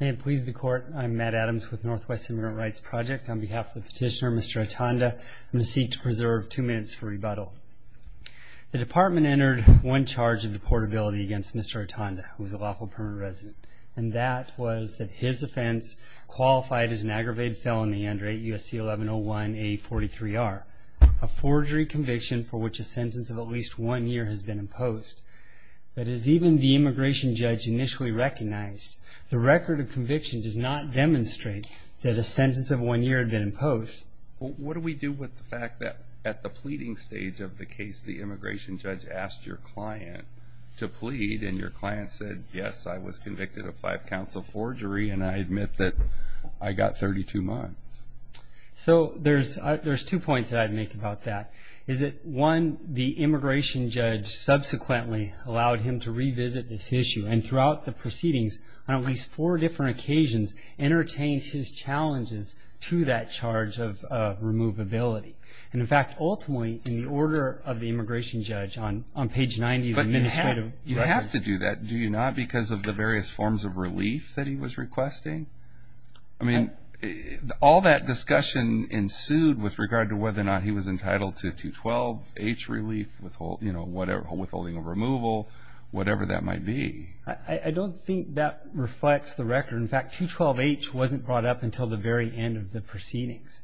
May it please the court, I'm Matt Adams with Northwest Immigrant Rights Project. On behalf of the petitioner, Mr. Atanda, I'm going to seek to preserve two minutes for rebuttal. The department entered one charge of deportability against Mr. Atanda, who is a lawful permanent resident. And that was that his offense qualified as an aggravated felony under 8 U.S.C. 1101-A43-R, a forgery conviction for which a sentence of at least one year has been imposed. But as even the immigration judge initially recognized, the record of conviction does not demonstrate that a sentence of one year had been imposed. What do we do with the fact that at the pleading stage of the case, the immigration judge asked your client to plead and your client said, yes, I was convicted of five counts of forgery and I admit that I got 32 months? So there's two points that I'd make about that. One, the immigration judge subsequently allowed him to revisit this issue and throughout the proceedings, on at least four different occasions, entertained his challenges to that charge of removability. And in fact, ultimately, in the order of the immigration judge on page 90 of the administrative record. But you have to do that, do you not, because of the various forms of relief that he was requesting? I mean, all that discussion ensued with regard to whether or not he was entitled to 212-H relief, withholding a removal, whatever that might be. I don't think that reflects the record. In fact, 212-H wasn't brought up until the very end of the proceedings.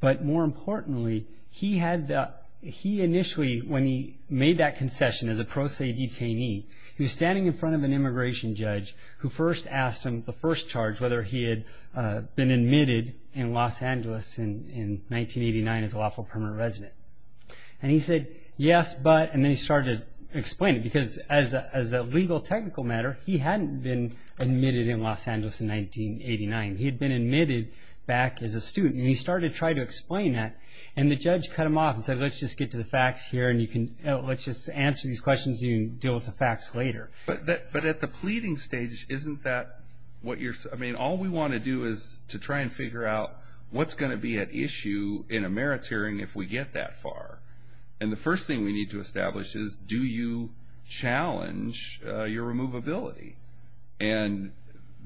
But more importantly, he initially, when he made that concession as a pro se detainee, he was standing in front of an immigration judge who first asked him the first charge, whether he had been admitted in Los Angeles in 1989 as a lawful permanent resident. And he said, yes, but, and then he started to explain it, because as a legal technical matter, he hadn't been admitted in Los Angeles in 1989. He had been admitted back as a student. And he started to try to explain that and the judge cut him off and said, let's just get to the facts here and you can, let's just answer these questions and you can deal with the facts later. But at the pleading stage, isn't that what you're, I mean, all we want to do is to try and figure out what's going to be at issue in a merits hearing if we get that far. And the first thing we need to establish is, do you challenge your removability? And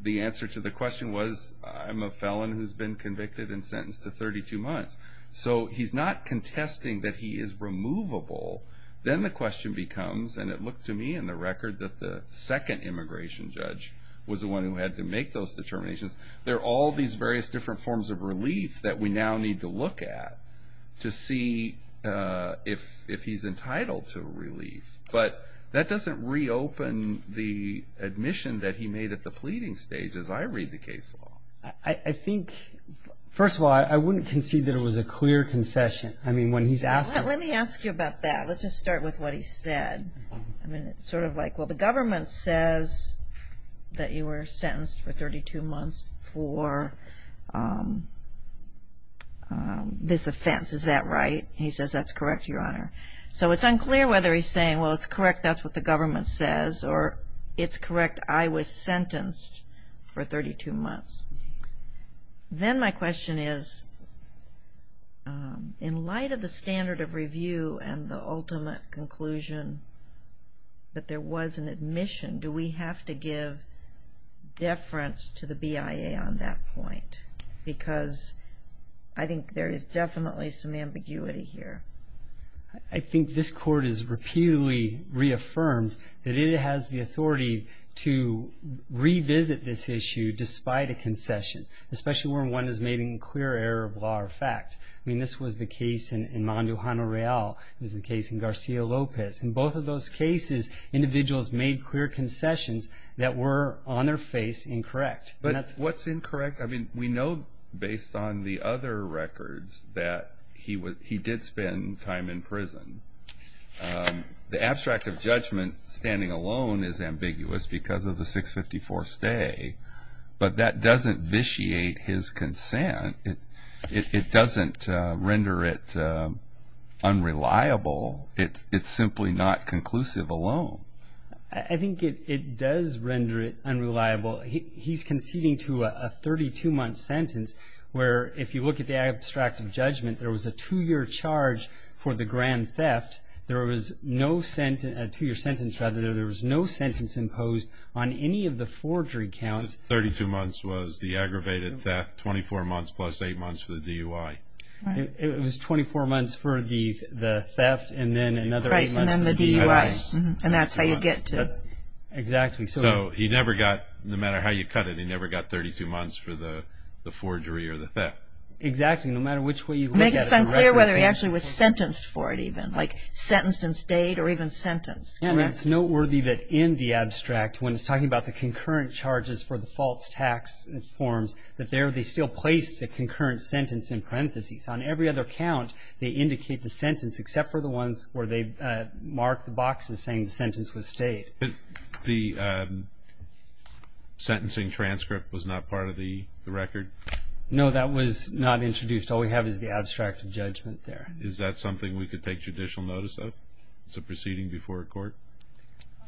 the answer to the question was, I'm a felon who's been convicted and sentenced to 32 months. So he's not contesting that he is removable. Then the question becomes, and it looked to me in the record that the second immigration judge was the one who had to make those determinations. There are all these various different forms of relief that we now need to look at to see if he's entitled to relief. But that doesn't reopen the admission that he made at the pleading stage, as I read the case law. I think, first of all, I wouldn't concede that it was a clear concession. I mean, when he's asking. Let me ask you about that. Let's just start with what he said. I mean, it's sort of like, well, the government says that you were sentenced for 32 months for this offense. Is that right? He says that's correct, Your Honor. So it's unclear whether he's saying, well, it's correct, that's what the government says, or it's correct, I was sentenced for 32 months. Then my question is, in light of the standard of review and the ultimate conclusion that there was an admission, do we have to give deference to the BIA on that point? Because I think there is definitely some ambiguity here. I think this Court has repeatedly reaffirmed that it has the authority to revisit this issue despite a concession, especially when one has made a clear error of law or fact. I mean, this was the case in Mondo Jano Real. It was the case in Garcia Lopez. In both of those cases, individuals made clear concessions that were, on their face, incorrect. But what's incorrect? I mean, we know based on the other records that he did spend time in prison. The abstract of judgment, standing alone, is ambiguous because of the 654 stay. But that doesn't vitiate his consent. It doesn't render it unreliable. It's simply not conclusive alone. I think it does render it unreliable. He's conceding to a 32-month sentence where, if you look at the abstract of judgment, there was a two-year charge for the grand theft. There was no sentence imposed on any of the forgery counts. Thirty-two months was the aggravated theft, 24 months plus eight months for the DUI. It was 24 months for the theft and then another eight months for the DUI. And that's how you get to it. Exactly. So he never got, no matter how you cut it, he never got 32 months for the forgery or the theft. Exactly, no matter which way you look at it. It makes it unclear whether he actually was sentenced for it even, like sentenced and stayed or even sentenced. It's noteworthy that in the abstract, when it's talking about the concurrent charges for the false tax forms, that there they still place the concurrent sentence in parentheses. On every other count, they indicate the sentence except for the ones where they mark the boxes saying the sentence was stayed. But the sentencing transcript was not part of the record? No, that was not introduced. All we have is the abstract of judgment there. Is that something we could take judicial notice of as a proceeding before a court?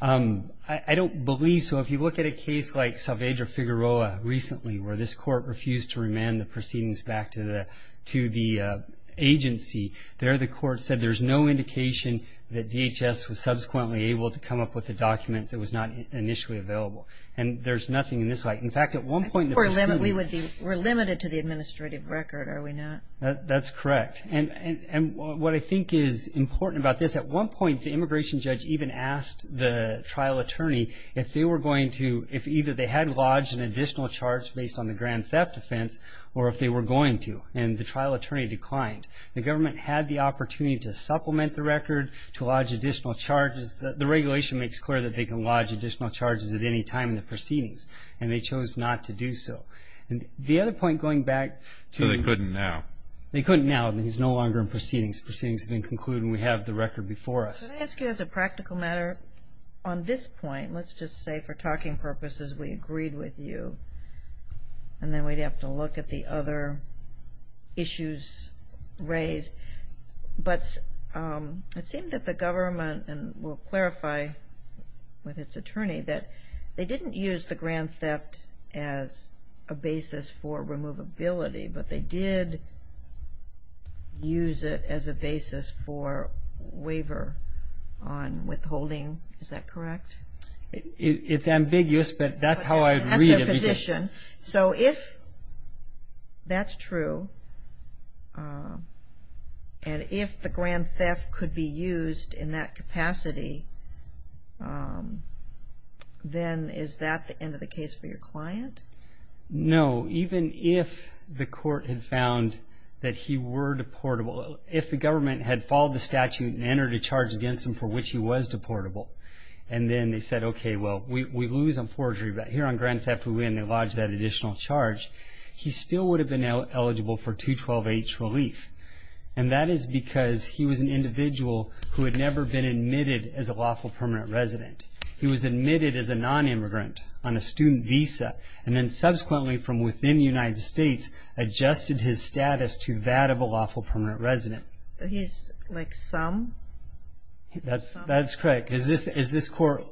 I don't believe so. If you look at a case like Salvedra Figueroa recently, where this court refused to remand the proceedings back to the agency, there the court said there's no indication that DHS was subsequently able to come up with a document that was not initially available. And there's nothing in this light. In fact, at one point in the proceedings- We're limited to the administrative record, are we not? That's correct. And what I think is important about this, at one point the immigration judge even asked the trial attorney if they were going to, if either they had lodged an additional charge based on the grand theft offense or if they were going to, and the trial attorney declined. The government had the opportunity to supplement the record, to lodge additional charges. The regulation makes clear that they can lodge additional charges at any time in the proceedings, and they chose not to do so. And the other point, going back to- So they couldn't now. They couldn't now. He's no longer in proceedings. Proceedings have been concluded, and we have the record before us. Can I ask you as a practical matter, on this point, let's just say for talking purposes we agreed with you, and then we'd have to look at the other issues raised. But it seemed that the government, and we'll clarify with its attorney, that they didn't use the grand theft as a basis for removability, but they did use it as a basis for waiver on withholding. Is that correct? It's ambiguous, but that's how I read it. So if that's true, and if the grand theft could be used in that capacity, then is that the end of the case for your client? No. Even if the court had found that he were deportable, if the government had followed the statute and entered a charge against him for which he was deportable, and then they said, okay, well, we lose on forgery, but here on grand theft we win, they lodge that additional charge, he still would have been eligible for 212H relief. And that is because he was an individual who had never been admitted as a lawful permanent resident. He was admitted as a nonimmigrant on a student visa, and then subsequently from within the United States adjusted his status to that of a lawful permanent resident. He's like some? That's correct. As this court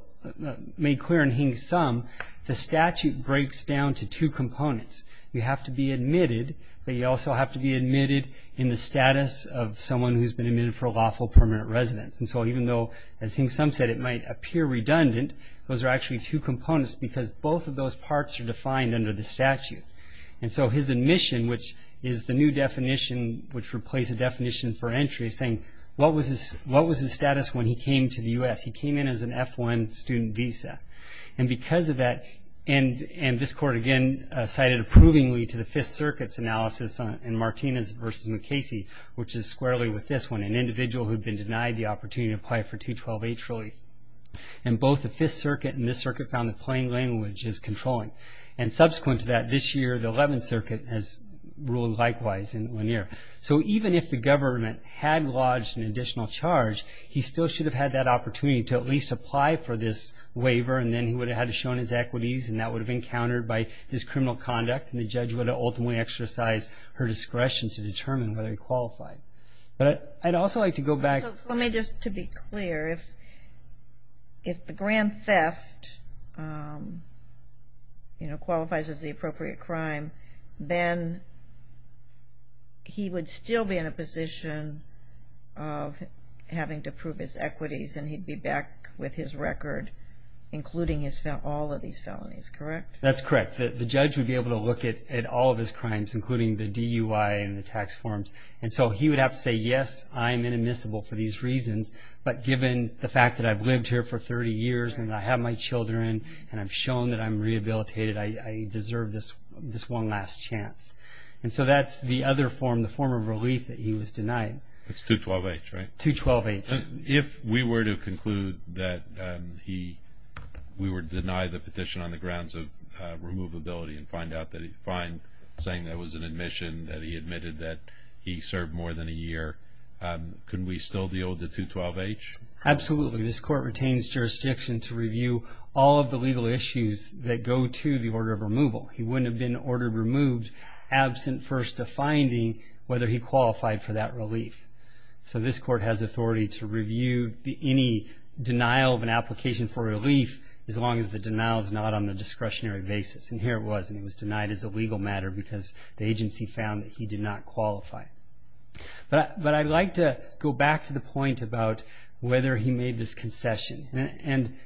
made clear in Hing Sum, the statute breaks down to two components. You have to be admitted, but you also have to be admitted in the status of someone who's been admitted for a lawful permanent residence. And so even though, as Hing Sum said, it might appear redundant, those are actually two components because both of those parts are defined under the statute. And so his admission, which is the new definition, which replaced the definition for entry, saying what was his status when he came to the U.S.? He came in as an F-1 student visa. And because of that, and this court again cited approvingly to the Fifth Circuit's analysis in Martinez v. McCasey, which is squarely with this one, an individual who had been denied the opportunity to apply for 212H relief. And both the Fifth Circuit and this circuit found that plain language is controlling. And subsequent to that, this year the Eleventh Circuit has ruled likewise in Lanier. So even if the government had lodged an additional charge, he still should have had that opportunity to at least apply for this waiver, and then he would have had to show his equities, and that would have been countered by his criminal conduct, and the judge would have ultimately exercised her discretion to determine whether he qualified. But I'd also like to go back. So let me just, to be clear, if the grand theft qualifies as the appropriate crime, then he would still be in a position of having to prove his equities, and he'd be back with his record, including all of these felonies, correct? That's correct. The judge would be able to look at all of his crimes, including the DUI and the tax forms. And so he would have to say, yes, I'm inadmissible for these reasons, but given the fact that I've lived here for 30 years and I have my children and I've shown that I'm rehabilitated, I deserve this one last chance. And so that's the other form, the form of relief that he was denied. It's 212H, right? 212H. If we were to conclude that he, we were to deny the petition on the grounds of removability and find that it was an admission that he admitted that he served more than a year, could we still deal with the 212H? Absolutely. This court retains jurisdiction to review all of the legal issues that go to the order of removal. He wouldn't have been ordered removed absent first a finding whether he qualified for that relief. So this court has authority to review any denial of an application for relief as long as the denial is not on a discretionary basis. And here it was, and he was denied as a legal matter because the agency found that he did not qualify. But I'd like to go back to the point about whether he made this concession. And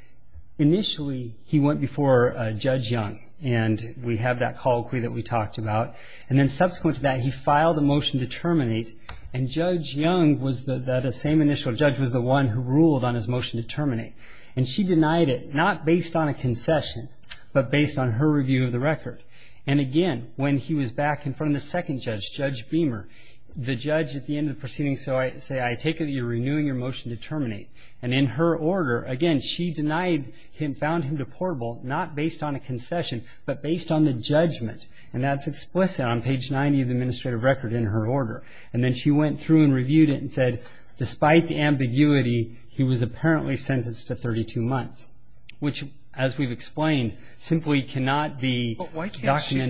initially he went before Judge Young, and we have that colloquy that we talked about. And then subsequent to that he filed a motion to terminate, and Judge Young was the same initial judge was the one who ruled on his motion to terminate. And she denied it not based on a concession but based on her review of the record. And, again, when he was back in front of the second judge, Judge Beamer, the judge at the end of the proceeding said, I take it that you're renewing your motion to terminate. And in her order, again, she denied him, found him deportable not based on a concession but based on the judgment, and that's explicit on page 90 of the administrative record in her order. And then she went through and reviewed it and said, despite the ambiguity, he was apparently sentenced to 32 months, which, as we've explained, simply cannot be documented.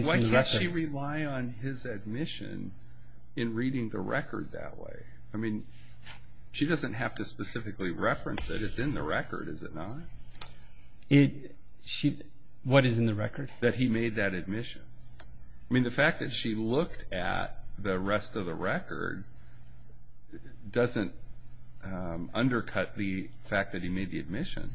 But why can't she rely on his admission in reading the record that way? I mean, she doesn't have to specifically reference that it's in the record, is it not? What is in the record? That he made that admission. I mean, the fact that she looked at the rest of the record doesn't undercut the fact that he made the admission.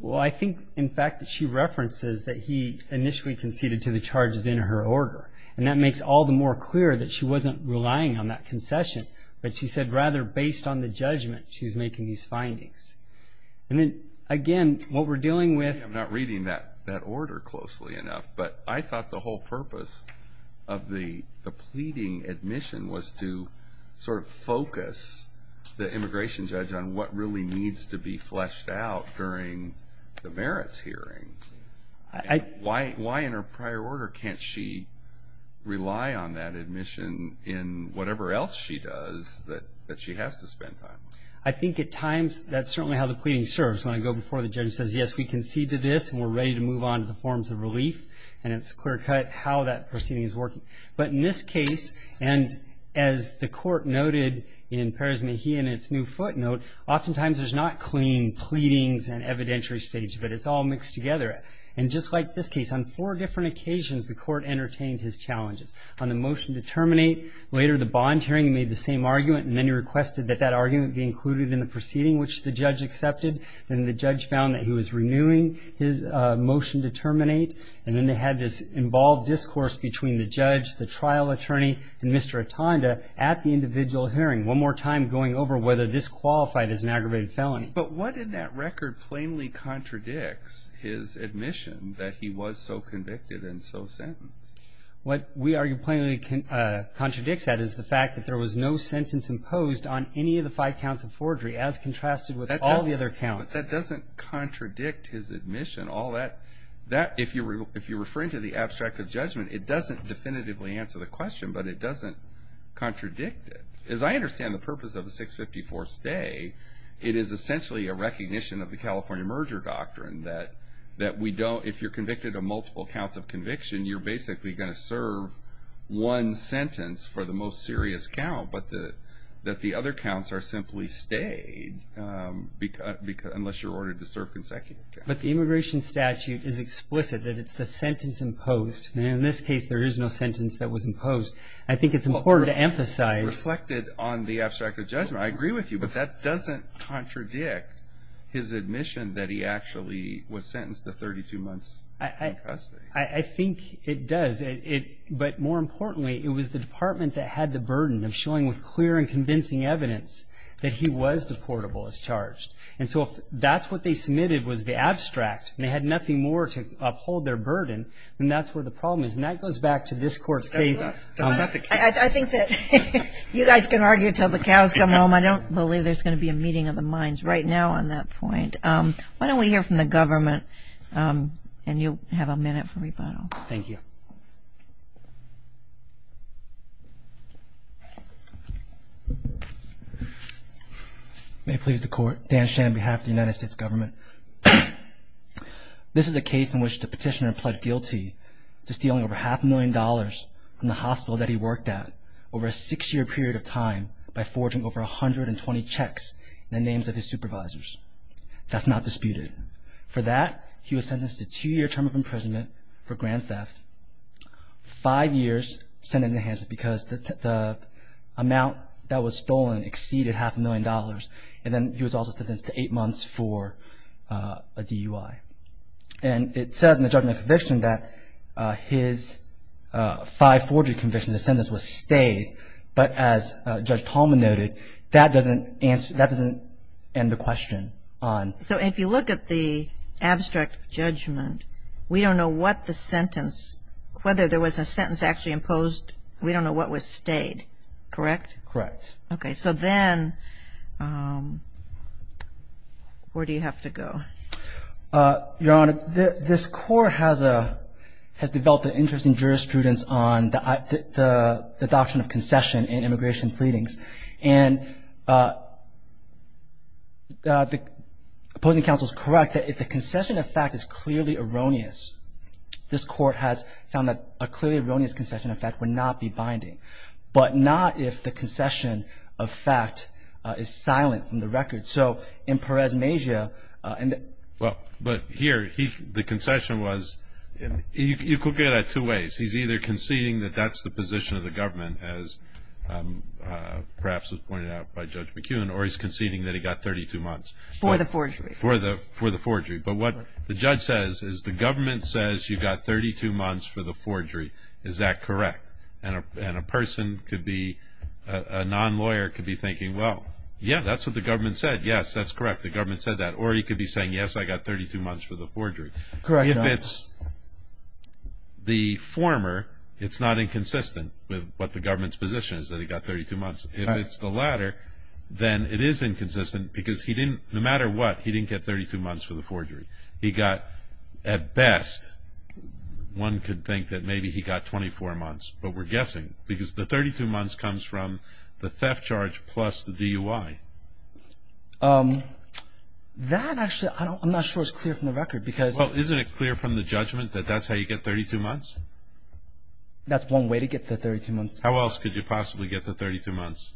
Well, I think, in fact, that she references that he initially conceded to the charges in her order, and that makes all the more clear that she wasn't relying on that concession, but she said rather based on the judgment she's making these findings. And then, again, what we're dealing with- of the pleading admission was to sort of focus the immigration judge on what really needs to be fleshed out during the merits hearing. Why in her prior order can't she rely on that admission in whatever else she does that she has to spend time? I think at times that's certainly how the pleading serves. When I go before the judge and say, yes, we conceded to this, and we're ready to move on to the forms of relief, and it's clear-cut how that proceeding is working. But in this case, and as the court noted in Perez-Mejia in its new footnote, oftentimes there's not clean pleadings and evidentiary stage, but it's all mixed together. And just like this case, on four different occasions the court entertained his challenges. On the motion to terminate, later the bond hearing, he made the same argument, and then he requested that that argument be included in the proceeding, which the judge accepted. Then the judge found that he was renewing his motion to terminate, and then they had this involved discourse between the judge, the trial attorney, and Mr. Otonda at the individual hearing, one more time going over whether this qualified as an aggravated felony. But what in that record plainly contradicts his admission that he was so convicted and so sentenced? What we argue plainly contradicts that is the fact that there was no sentence imposed on any of the five counts of forgery as contrasted with all the other counts. But that doesn't contradict his admission. If you're referring to the abstract of judgment, it doesn't definitively answer the question, but it doesn't contradict it. As I understand the purpose of the 654 stay, it is essentially a recognition of the California merger doctrine, that if you're convicted of multiple counts of conviction, you're basically going to serve one sentence for the most serious count, but that the other counts are simply stayed unless you're ordered to serve consecutive counts. But the immigration statute is explicit that it's the sentence imposed. In this case, there is no sentence that was imposed. I think it's important to emphasize. Reflected on the abstract of judgment, I agree with you, but that doesn't contradict his admission that he actually was sentenced to 32 months in custody. I think it does. But more importantly, it was the department that had the burden of showing with clear and convincing evidence that he was deportable as charged. And so if that's what they submitted was the abstract, and they had nothing more to uphold their burden, then that's where the problem is. And that goes back to this court's case. I think that you guys can argue until the cows come home. I don't believe there's going to be a meeting of the minds right now on that point. Why don't we hear from the government, and you'll have a minute for rebuttal. Thank you. May it please the Court. Dan Shen on behalf of the United States Government. This is a case in which the petitioner pled guilty to stealing over half a million dollars from the hospital that he worked at over a six-year period of time by forging over 120 checks in the names of his supervisors. That's not disputed. For that, he was sentenced to a two-year term of imprisonment for grand theft, five years sentence enhancement because the amount that was stolen exceeded half a million dollars, and then he was also sentenced to eight months for a DUI. And it says in the judgment of conviction that his five forgery convictions, the sentence was stayed, but as Judge Palmer noted, that doesn't end the question. So if you look at the abstract judgment, we don't know what the sentence, whether there was a sentence actually imposed, we don't know what was stayed, correct? Correct. Okay. So then where do you have to go? Your Honor, this Court has developed an interest in jurisprudence on the doctrine of concession and immigration pleadings, and the opposing counsel is correct that if the concession of fact is clearly erroneous, this Court has found that a clearly erroneous concession of fact would not be binding, but not if the concession of fact is silent from the record. So in Perez Mejia and the ---- Well, but here the concession was, you could look at it two ways. He's either conceding that that's the position of the government, as perhaps was pointed out by Judge McKeown, or he's conceding that he got 32 months. For the forgery. For the forgery. But what the judge says is the government says you got 32 months for the forgery. Is that correct? And a person could be, a non-lawyer could be thinking, well, yeah, that's what the government said. Yes, that's correct. The government said that. Correct, Your Honor. If it's the former, it's not inconsistent with what the government's position is that he got 32 months. If it's the latter, then it is inconsistent because he didn't, no matter what, he didn't get 32 months for the forgery. He got, at best, one could think that maybe he got 24 months, but we're guessing, because the 32 months comes from the theft charge plus the DUI. That actually, I'm not sure it's clear from the record because ---- Well, isn't it clear from the judgment that that's how you get 32 months? That's one way to get the 32 months. How else could you possibly get the 32 months?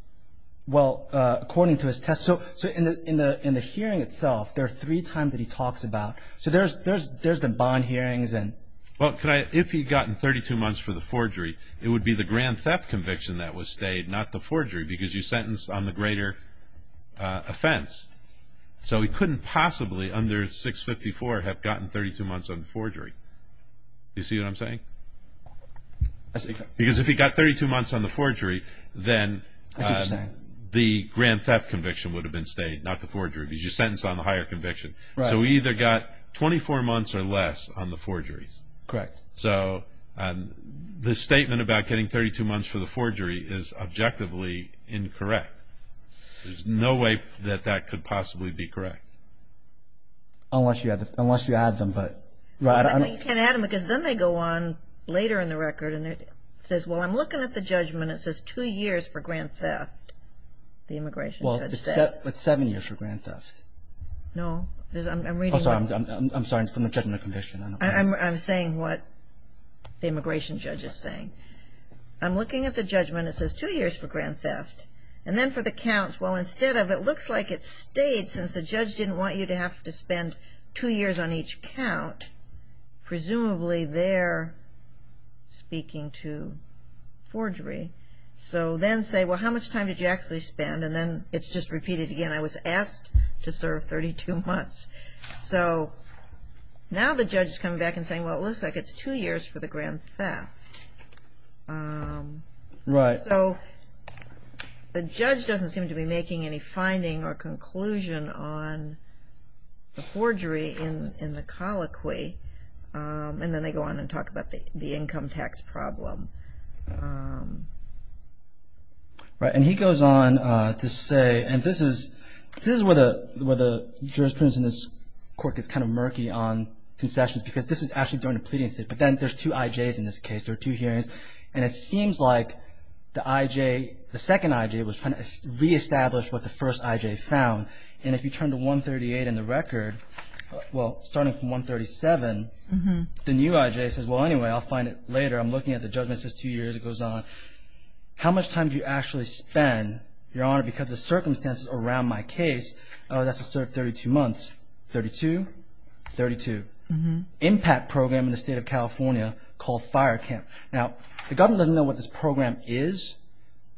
Well, according to his test, so in the hearing itself, there are three times that he talks about. So there's the bond hearings and ---- Well, if he'd gotten 32 months for the forgery, it would be the grand theft conviction that was stayed, not the forgery, because you sentenced on the greater offense. So he couldn't possibly, under 654, have gotten 32 months on the forgery. Do you see what I'm saying? I see. Because if he got 32 months on the forgery, then the grand theft conviction would have been stayed, not the forgery, because you sentenced on the higher conviction. Right. So he either got 24 months or less on the forgeries. Correct. So the statement about getting 32 months for the forgery is objectively incorrect. There's no way that that could possibly be correct. Unless you add them, but ---- Well, you can't add them, because then they go on later in the record, and it says, well, I'm looking at the judgment. It says two years for grand theft, the immigration judge says. Well, it's seven years for grand theft. No. I'm reading what ---- I'm sorry. It's from the judgment of conviction. I'm saying what the immigration judge is saying. I'm looking at the judgment. It says two years for grand theft. And then for the counts, well, instead of it looks like it's stayed, since the judge didn't want you to have to spend two years on each count. Presumably they're speaking to forgery. So then say, well, how much time did you actually spend? And then it's just repeated again. I was asked to serve 32 months. So now the judge is coming back and saying, well, it looks like it's two years for the grand theft. Right. So the judge doesn't seem to be making any finding or conclusion on the forgery in the colloquy. And then they go on and talk about the income tax problem. Right. And he goes on to say, and this is where the jurisprudence in this court gets kind of murky on concessions because this is actually during a pleading state. But then there's two IJs in this case. There are two hearings. And it seems like the IJ, the second IJ was trying to reestablish what the first IJ found. And if you turn to 138 in the record, well, starting from 137, the new IJ says, well, anyway, I'll find it later. I'm looking at the judgment. It says two years. It goes on. How much time do you actually spend, Your Honor, because the circumstances around my case, oh, that's to serve 32 months, 32, 32. Impact program in the state of California called fire camp. Now, the government doesn't know what this program is,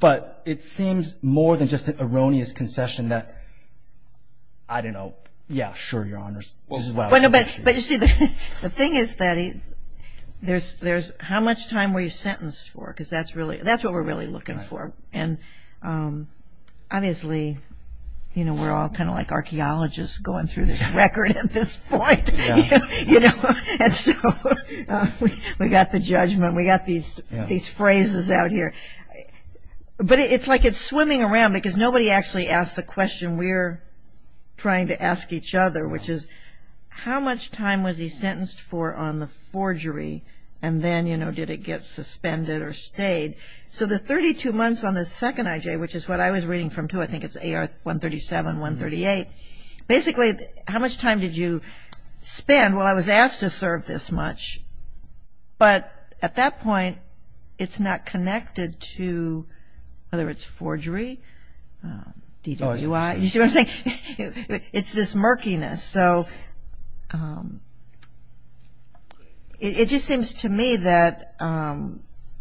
but it seems more than just an erroneous concession that, I don't know. Yeah, sure, Your Honors. But, you see, the thing is that there's how much time were you sentenced for because that's what we're really looking for. And obviously, you know, we're all kind of like archaeologists going through this record at this point, you know. And so we got the judgment. We got these phrases out here. But it's like it's swimming around because nobody actually asked the question we're trying to ask each other, which is how much time was he sentenced for on the forgery, and then, you know, did it get suspended or stayed? So the 32 months on the second IJ, which is what I was reading from too, I think it's AR 137, 138. Basically, how much time did you spend? Well, I was asked to serve this much, but at that point, it's not connected to whether it's forgery, DWI. You see what I'm saying? It's this murkiness. So it just seems to me that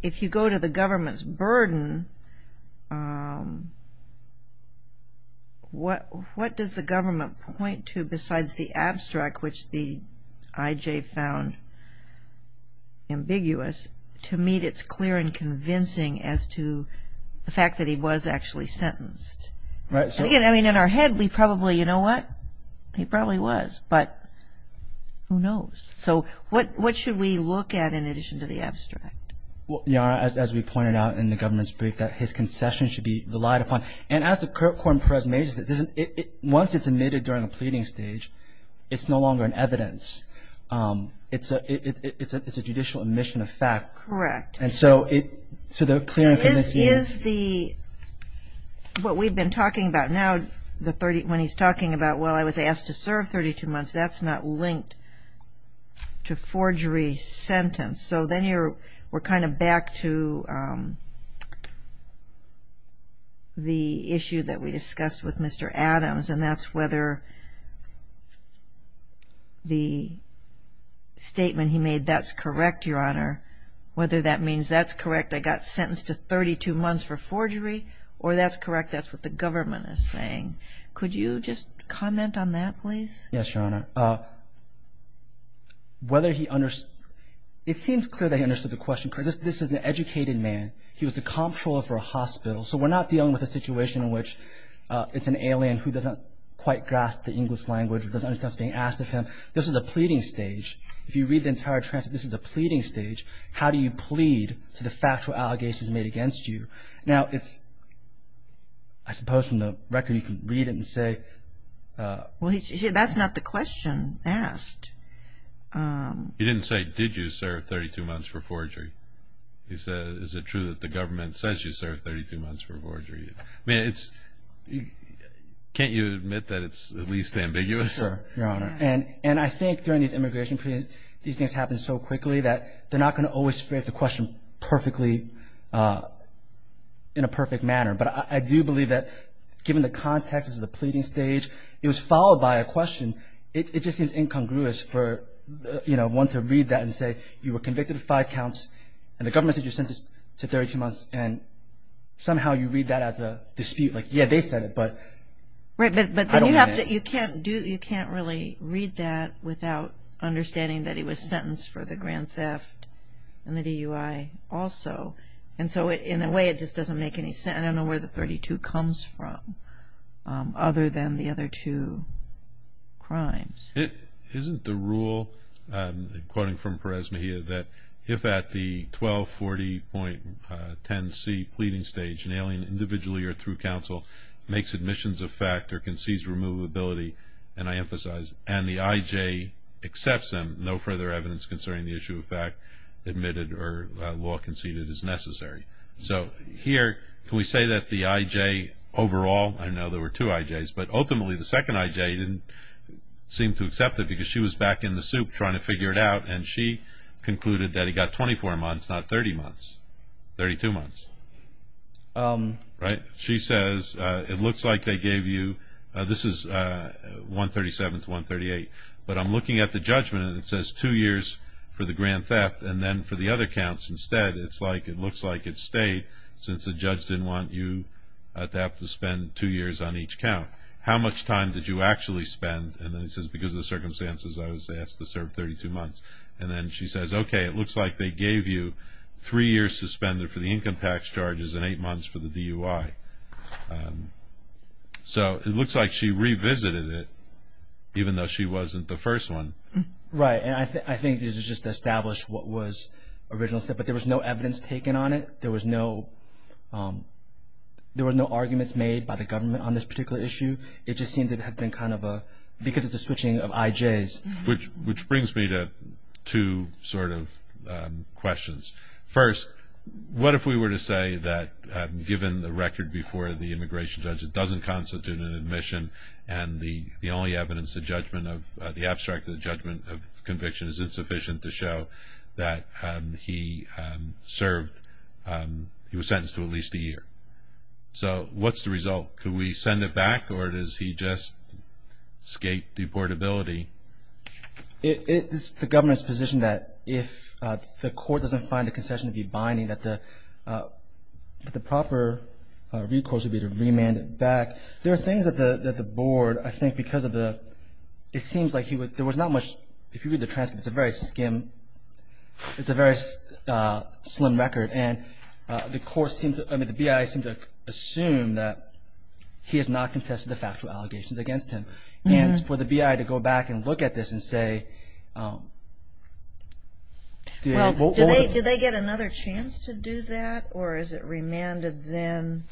if you go to the government's burden, what does the government point to besides the abstract, which the IJ found ambiguous, to meet its clear and convincing as to the fact that he was actually sentenced? I mean, in our head, we probably, you know what? He probably was, but who knows? So what should we look at in addition to the abstract? Yara, as we pointed out in the government's brief, that his concession should be relied upon. And as the court presumes, once it's admitted during the pleading stage, it's no longer an evidence. It's a judicial admission of fact. Correct. And so the clear and convincing is? This is what we've been talking about. Now, when he's talking about, well, I was asked to serve 32 months, that's not linked to forgery sentence. So then we're kind of back to the issue that we discussed with Mr. Adams, and that's whether the statement he made, that's correct, Your Honor, whether that means that's correct, I got sentenced to 32 months for forgery, or that's correct, that's what the government is saying. Could you just comment on that, please? Yes, Your Honor. Whether he understood – it seems clear that he understood the question. This is an educated man. He was a comptroller for a hospital. So we're not dealing with a situation in which it's an alien who doesn't quite grasp the English language or doesn't understand what's being asked of him. This is a pleading stage. If you read the entire transcript, this is a pleading stage. How do you plead to the factual allegations made against you? Now, I suppose from the record you can read it and say – Well, that's not the question asked. He didn't say, did you serve 32 months for forgery? He said, is it true that the government says you served 32 months for forgery? I mean, it's – can't you admit that it's at least ambiguous? Sure, Your Honor. And I think during these immigration proceedings, these things happen so quickly that they're not going to always phrase the question perfectly in a perfect manner. But I do believe that given the context, this is a pleading stage, it was followed by a question. It just seems incongruous for one to read that and say, you were convicted of five counts and the government said you're sentenced to 32 months, and somehow you read that as a dispute. Like, yeah, they said it, but I don't mean that. Right, but you can't really read that without understanding that he was sentenced for the grand theft and the DUI also. And so in a way it just doesn't make any sense. I don't know where the 32 comes from other than the other two crimes. Isn't the rule, quoting from Perez-Mejia, that if at the 1240.10c pleading stage an alien individually or through counsel makes admissions of fact or concedes removability, and I emphasize, and the IJ accepts them, no further evidence concerning the issue of fact admitted or law conceded is necessary. So here, can we say that the IJ overall, I know there were two IJs, but ultimately the second IJ didn't seem to accept it because she was back in the soup trying to figure it out, and she concluded that he got 24 months, not 32 months. She says, it looks like they gave you, this is 137 to 138, but I'm looking at the judgment and it says two years for the grand theft and then for the other counts instead. It looks like it stayed since the judge didn't want you to have to spend two years on each count. How much time did you actually spend? And then it says, because of the circumstances, I was asked to serve 32 months. And then she says, okay, it looks like they gave you three years to spend for the income tax charges and eight months for the DUI. So it looks like she revisited it, even though she wasn't the first one. Right, and I think this is just to establish what was originally said, but there was no evidence taken on it. There was no arguments made by the government on this particular issue. It just seemed it had been kind of a, because it's a switching of IJs. Which brings me to two sort of questions. First, what if we were to say that given the record before the immigration judge, it doesn't constitute an admission and the only evidence, the judgment of, the abstract of the judgment of conviction is insufficient to show that he served, he was sentenced to at least a year. So what's the result? Could we send it back or does he just escape deportability? It's the government's position that if the court doesn't find a concession to be binding, that the proper recourse would be to remand it back. There are things that the board, I think because of the, it seems like there was not much, if you read the transcript, it's a very skim, it's a very slim record. And the BIA seems to assume that he has not contested the factual allegations against him. And for the BIA to go back and look at this and say. Well, do they get another chance to do that? Or is it remanded then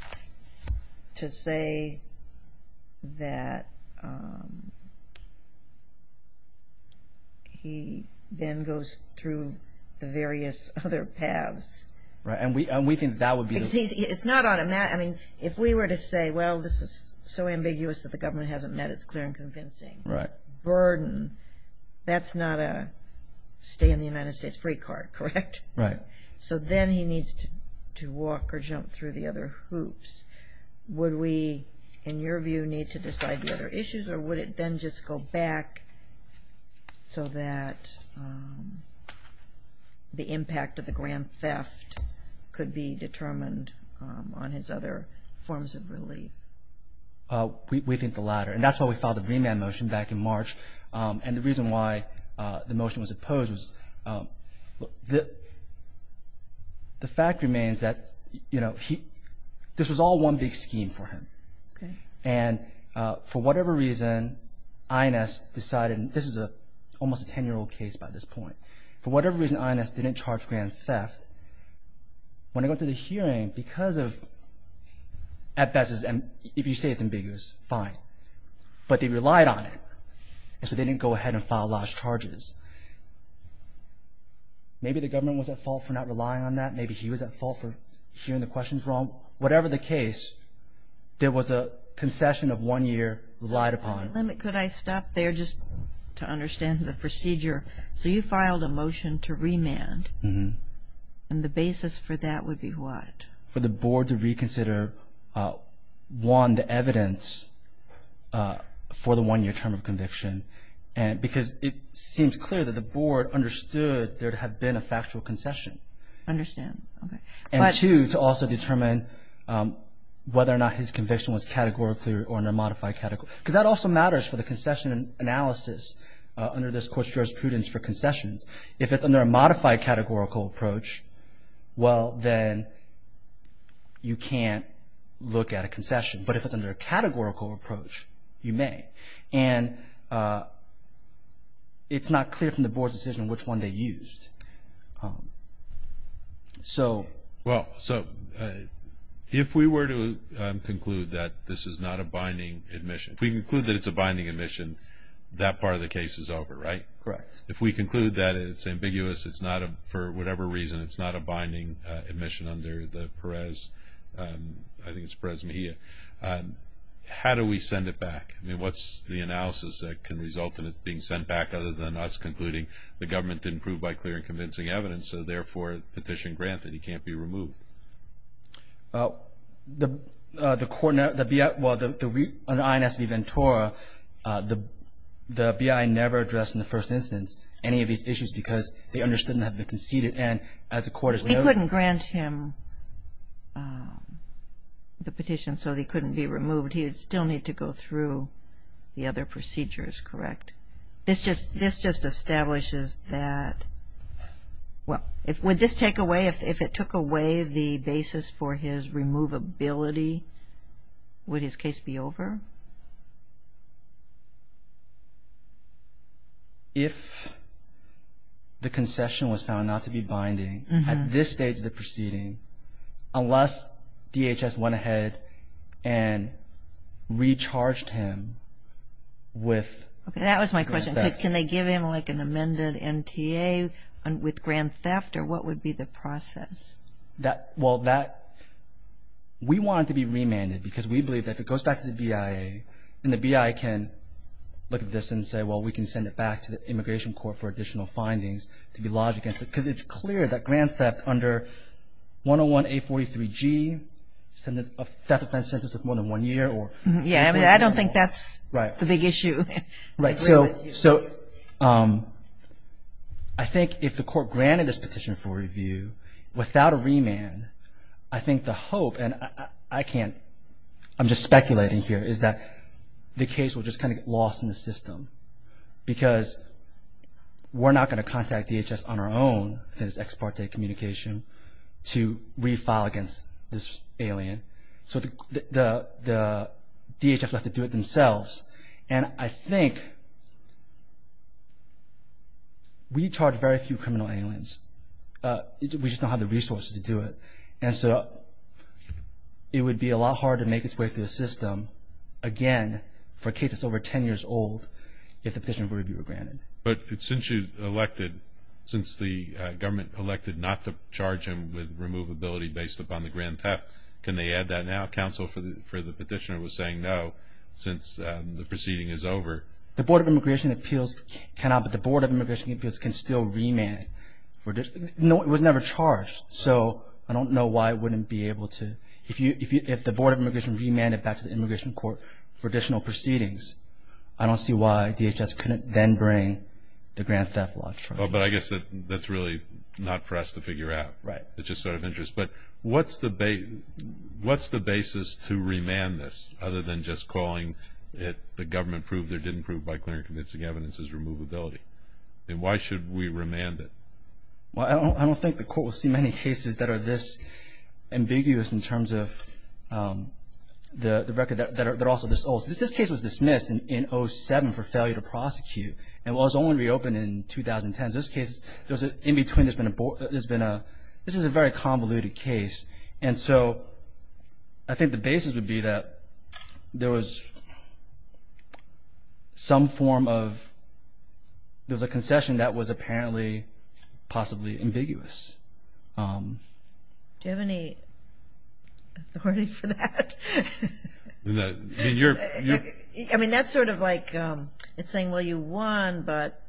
to say that he then goes through the various other paths? Right, and we think that would be. It's not automatic. I mean, if we were to say, well, this is so ambiguous that the government hasn't met, but it's clear and convincing. Burden, that's not a stay in the United States free card, correct? Right. So then he needs to walk or jump through the other hoops. Would we, in your view, need to decide the other issues or would it then just go back so that the impact of the grand theft could be determined on his other forms of relief? We think the latter. And that's why we filed the remand motion back in March. And the reason why the motion was opposed was the fact remains that this was all one big scheme for him. And for whatever reason, INS decided, and this is almost a 10-year-old case by this point. For whatever reason, INS didn't charge grand theft. When it went to the hearing, because of, at best, if you say it's ambiguous, fine, but they relied on it. And so they didn't go ahead and file large charges. Maybe the government was at fault for not relying on that. Maybe he was at fault for hearing the questions wrong. Whatever the case, there was a concession of one year relied upon. Could I stop there just to understand the procedure? So you filed a motion to remand. And the basis for that would be what? For the board to reconsider, one, the evidence for the one-year term of conviction. Because it seems clear that the board understood there had been a factual concession. I understand. And two, to also determine whether or not his conviction was categorically or in a modified category. Because that also matters for the concession analysis under this Court's jurisprudence for concessions. If it's under a modified categorical approach, well, then you can't look at a concession. But if it's under a categorical approach, you may. And it's not clear from the board's decision which one they used. Well, so if we were to conclude that this is not a binding admission, if we conclude that it's a binding admission, that part of the case is over, right? Correct. If we conclude that it's ambiguous, it's not a, for whatever reason, it's not a binding admission under the Perez, I think it's Perez Mejia, how do we send it back? I mean, what's the analysis that can result in it being sent back other than us concluding the government didn't prove by clear and convincing evidence, so therefore the petition granted. He can't be removed. The court, well, the INS V. Ventura, the BI never addressed in the first instance any of these issues because they understood it had been conceded. And as the Court has noted… They couldn't grant him the petition, so he couldn't be removed. He would still need to go through the other procedures, correct? Correct. This just establishes that, well, would this take away, if it took away the basis for his removability, would his case be over? If the concession was found not to be binding at this stage of the proceeding, unless DHS went ahead and recharged him with… Okay, that was my question. Can they give him, like, an amended MTA with grand theft, or what would be the process? Well, we want it to be remanded because we believe that if it goes back to the BIA, then the BIA can look at this and say, well, we can send it back to the Immigration Court for additional findings to be lodged against it. Because it's clear that grand theft under 101-843-G, a theft offense sentence of more than one year or… Yeah, I don't think that's the big issue. Right, so I think if the Court granted this petition for review without a remand, I think the hope, and I'm just speculating here, is that the case will just kind of get lost in the system because we're not going to contact DHS on our own, I think it's ex parte communication, to refile against this alien. So the DHS will have to do it themselves. And I think we charge very few criminal aliens. We just don't have the resources to do it. And so it would be a lot harder to make its way through the system, again, for a case that's over 10 years old, if the petition for review were granted. But since you elected, since the government elected not to charge him with removability based upon the grand theft, can they add that now? Counsel for the petitioner was saying no since the proceeding is over. The Board of Immigration Appeals cannot, but the Board of Immigration Appeals can still remand. It was never charged, so I don't know why it wouldn't be able to. If the Board of Immigration remanded it back to the Immigration Court for additional proceedings, I don't see why DHS couldn't then bring the grand theft law to trial. But I guess that's really not for us to figure out. Right. It's just sort of interesting. But what's the basis to remand this other than just calling it the government proved or didn't prove by clear and convincing evidence is removability? And why should we remand it? Well, I don't think the court will see many cases that are this ambiguous in terms of the record that are also this old. This case was dismissed in 07 for failure to prosecute. And it was only reopened in 2010. So this case, in between there's been a board, there's been a, this is a very convoluted case. And so I think the basis would be that there was some form of, there was a concession that was apparently possibly ambiguous. Do you have any authority for that? I mean, that's sort of like it's saying, well, you won, but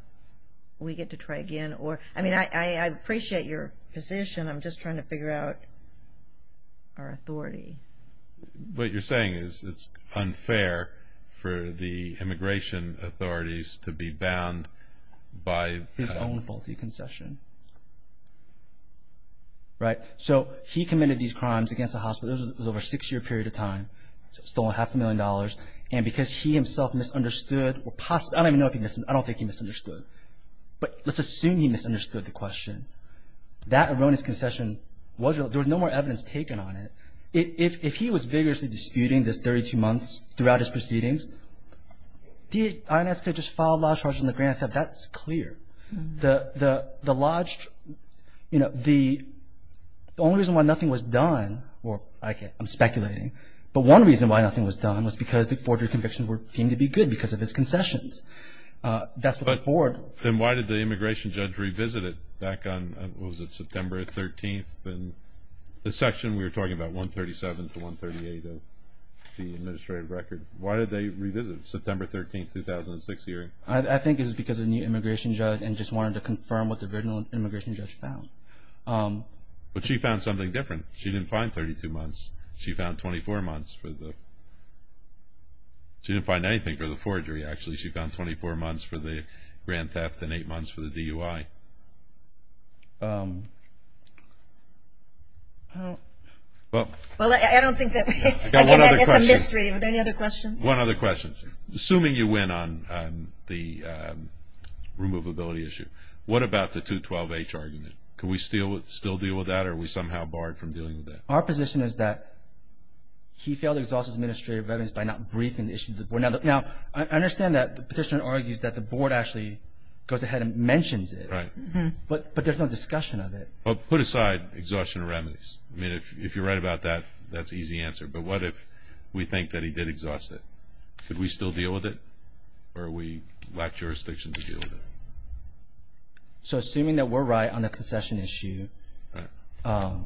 we get to try again. I mean, I appreciate your position. What you're saying is it's unfair for the immigration authorities to be bound by... His own faulty concession. Right. So he committed these crimes against the hospital. It was over a six-year period of time. Stole half a million dollars. And because he himself misunderstood or possibly, I don't even know if he, I don't think he misunderstood. But let's assume he misunderstood the question. That erroneous concession was, there was no more evidence taken on it. If he was vigorously disputing this 32 months throughout his proceedings, did INS just file lodge charges in the grand theft? That's clear. The lodge, you know, the only reason why nothing was done, or I'm speculating, but one reason why nothing was done was because the forgery convictions were deemed to be good because of his concessions. That's what the board. Then why did the immigration judge revisit it back on, what was it, September 13th? The section we were talking about, 137 to 138 of the administrative record, why did they revisit it, September 13th, 2006 hearing? I think it was because the new immigration judge and just wanted to confirm what the original immigration judge found. But she found something different. She didn't find 32 months. She found 24 months for the, she didn't find anything for the forgery, actually. She found 24 months for the grand theft and eight months for the DUI. Well, I don't think that, again, it's a mystery. Are there any other questions? One other question. Assuming you win on the removability issue, what about the 212H argument? Can we still deal with that, or are we somehow barred from dealing with that? Our position is that he failed to exhaust his administrative evidence by not briefing the issue to the board. Now, I understand that the petitioner argues that the board actually goes ahead and mentions it. Right. But there's no discussion of it. Well, put aside exhaustion of remedies. I mean, if you're right about that, that's an easy answer. But what if we think that he did exhaust it? Could we still deal with it, or are we lack jurisdiction to deal with it? So assuming that we're right on the concession issue, I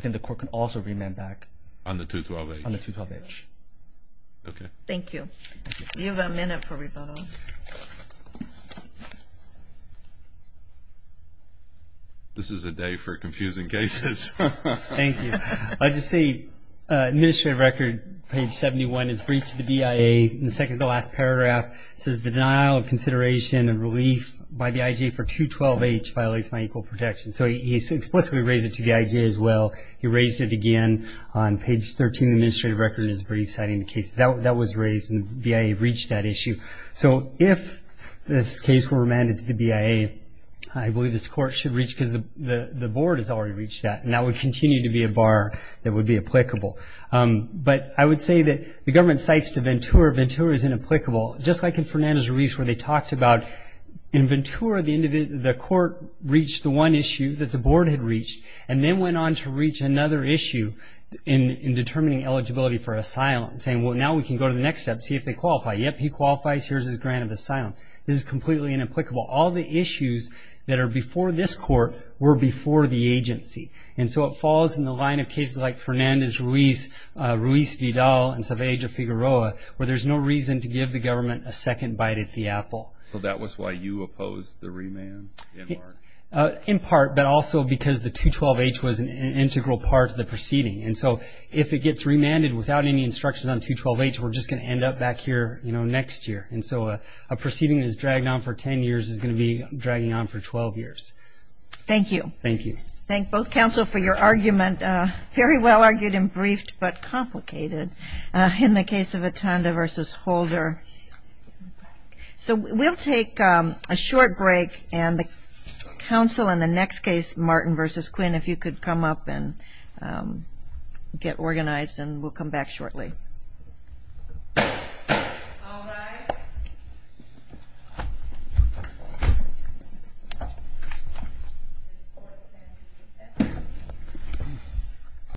think the court can also remand back. On the 212H? On the 212H. Okay. Thank you. You have a minute for rebuttal. This is a day for confusing cases. Thank you. I'll just say administrative record, page 71, is briefed to the DIA. In the second to the last paragraph, it says, the denial of consideration and relief by the IJ for 212H violates my equal protection. So he's explicitly raised it to the IJ as well. He raised it again. On page 13, the administrative record is briefed citing the case that was raised, and the DIA reached that issue. So if this case were remanded to the DIA, I believe this court should reach, because the board has already reached that, and that would continue to be a bar that would be applicable. But I would say that the government cites to Ventura, Ventura is inapplicable. Just like in Fernando's release where they talked about, in Ventura, the court reached the one issue that the board had reached, and then went on to reach another issue in determining eligibility for asylum, saying, well, now we can go to the next step and see if they qualify. Yep, he qualifies. Here's his grant of asylum. This is completely inapplicable. All the issues that are before this court were before the agency. And so it falls in the line of cases like Fernando's release, Ruiz Vidal, and Saavedra Figueroa, where there's no reason to give the government a second bite at the apple. So that was why you opposed the remand in part? In part, but also because the 212H was an integral part of the proceeding. And so if it gets remanded without any instructions on 212H, we're just going to end up back here, you know, next year. And so a proceeding that is dragged on for 10 years is going to be dragging on for 12 years. Thank you. Thank you. Thank both counsel for your argument, very well argued and briefed, but complicated in the case of Atanda versus Holder. So we'll take a short break. And the counsel in the next case, Martin versus Quinn, if you could come up and get organized, and we'll come back shortly.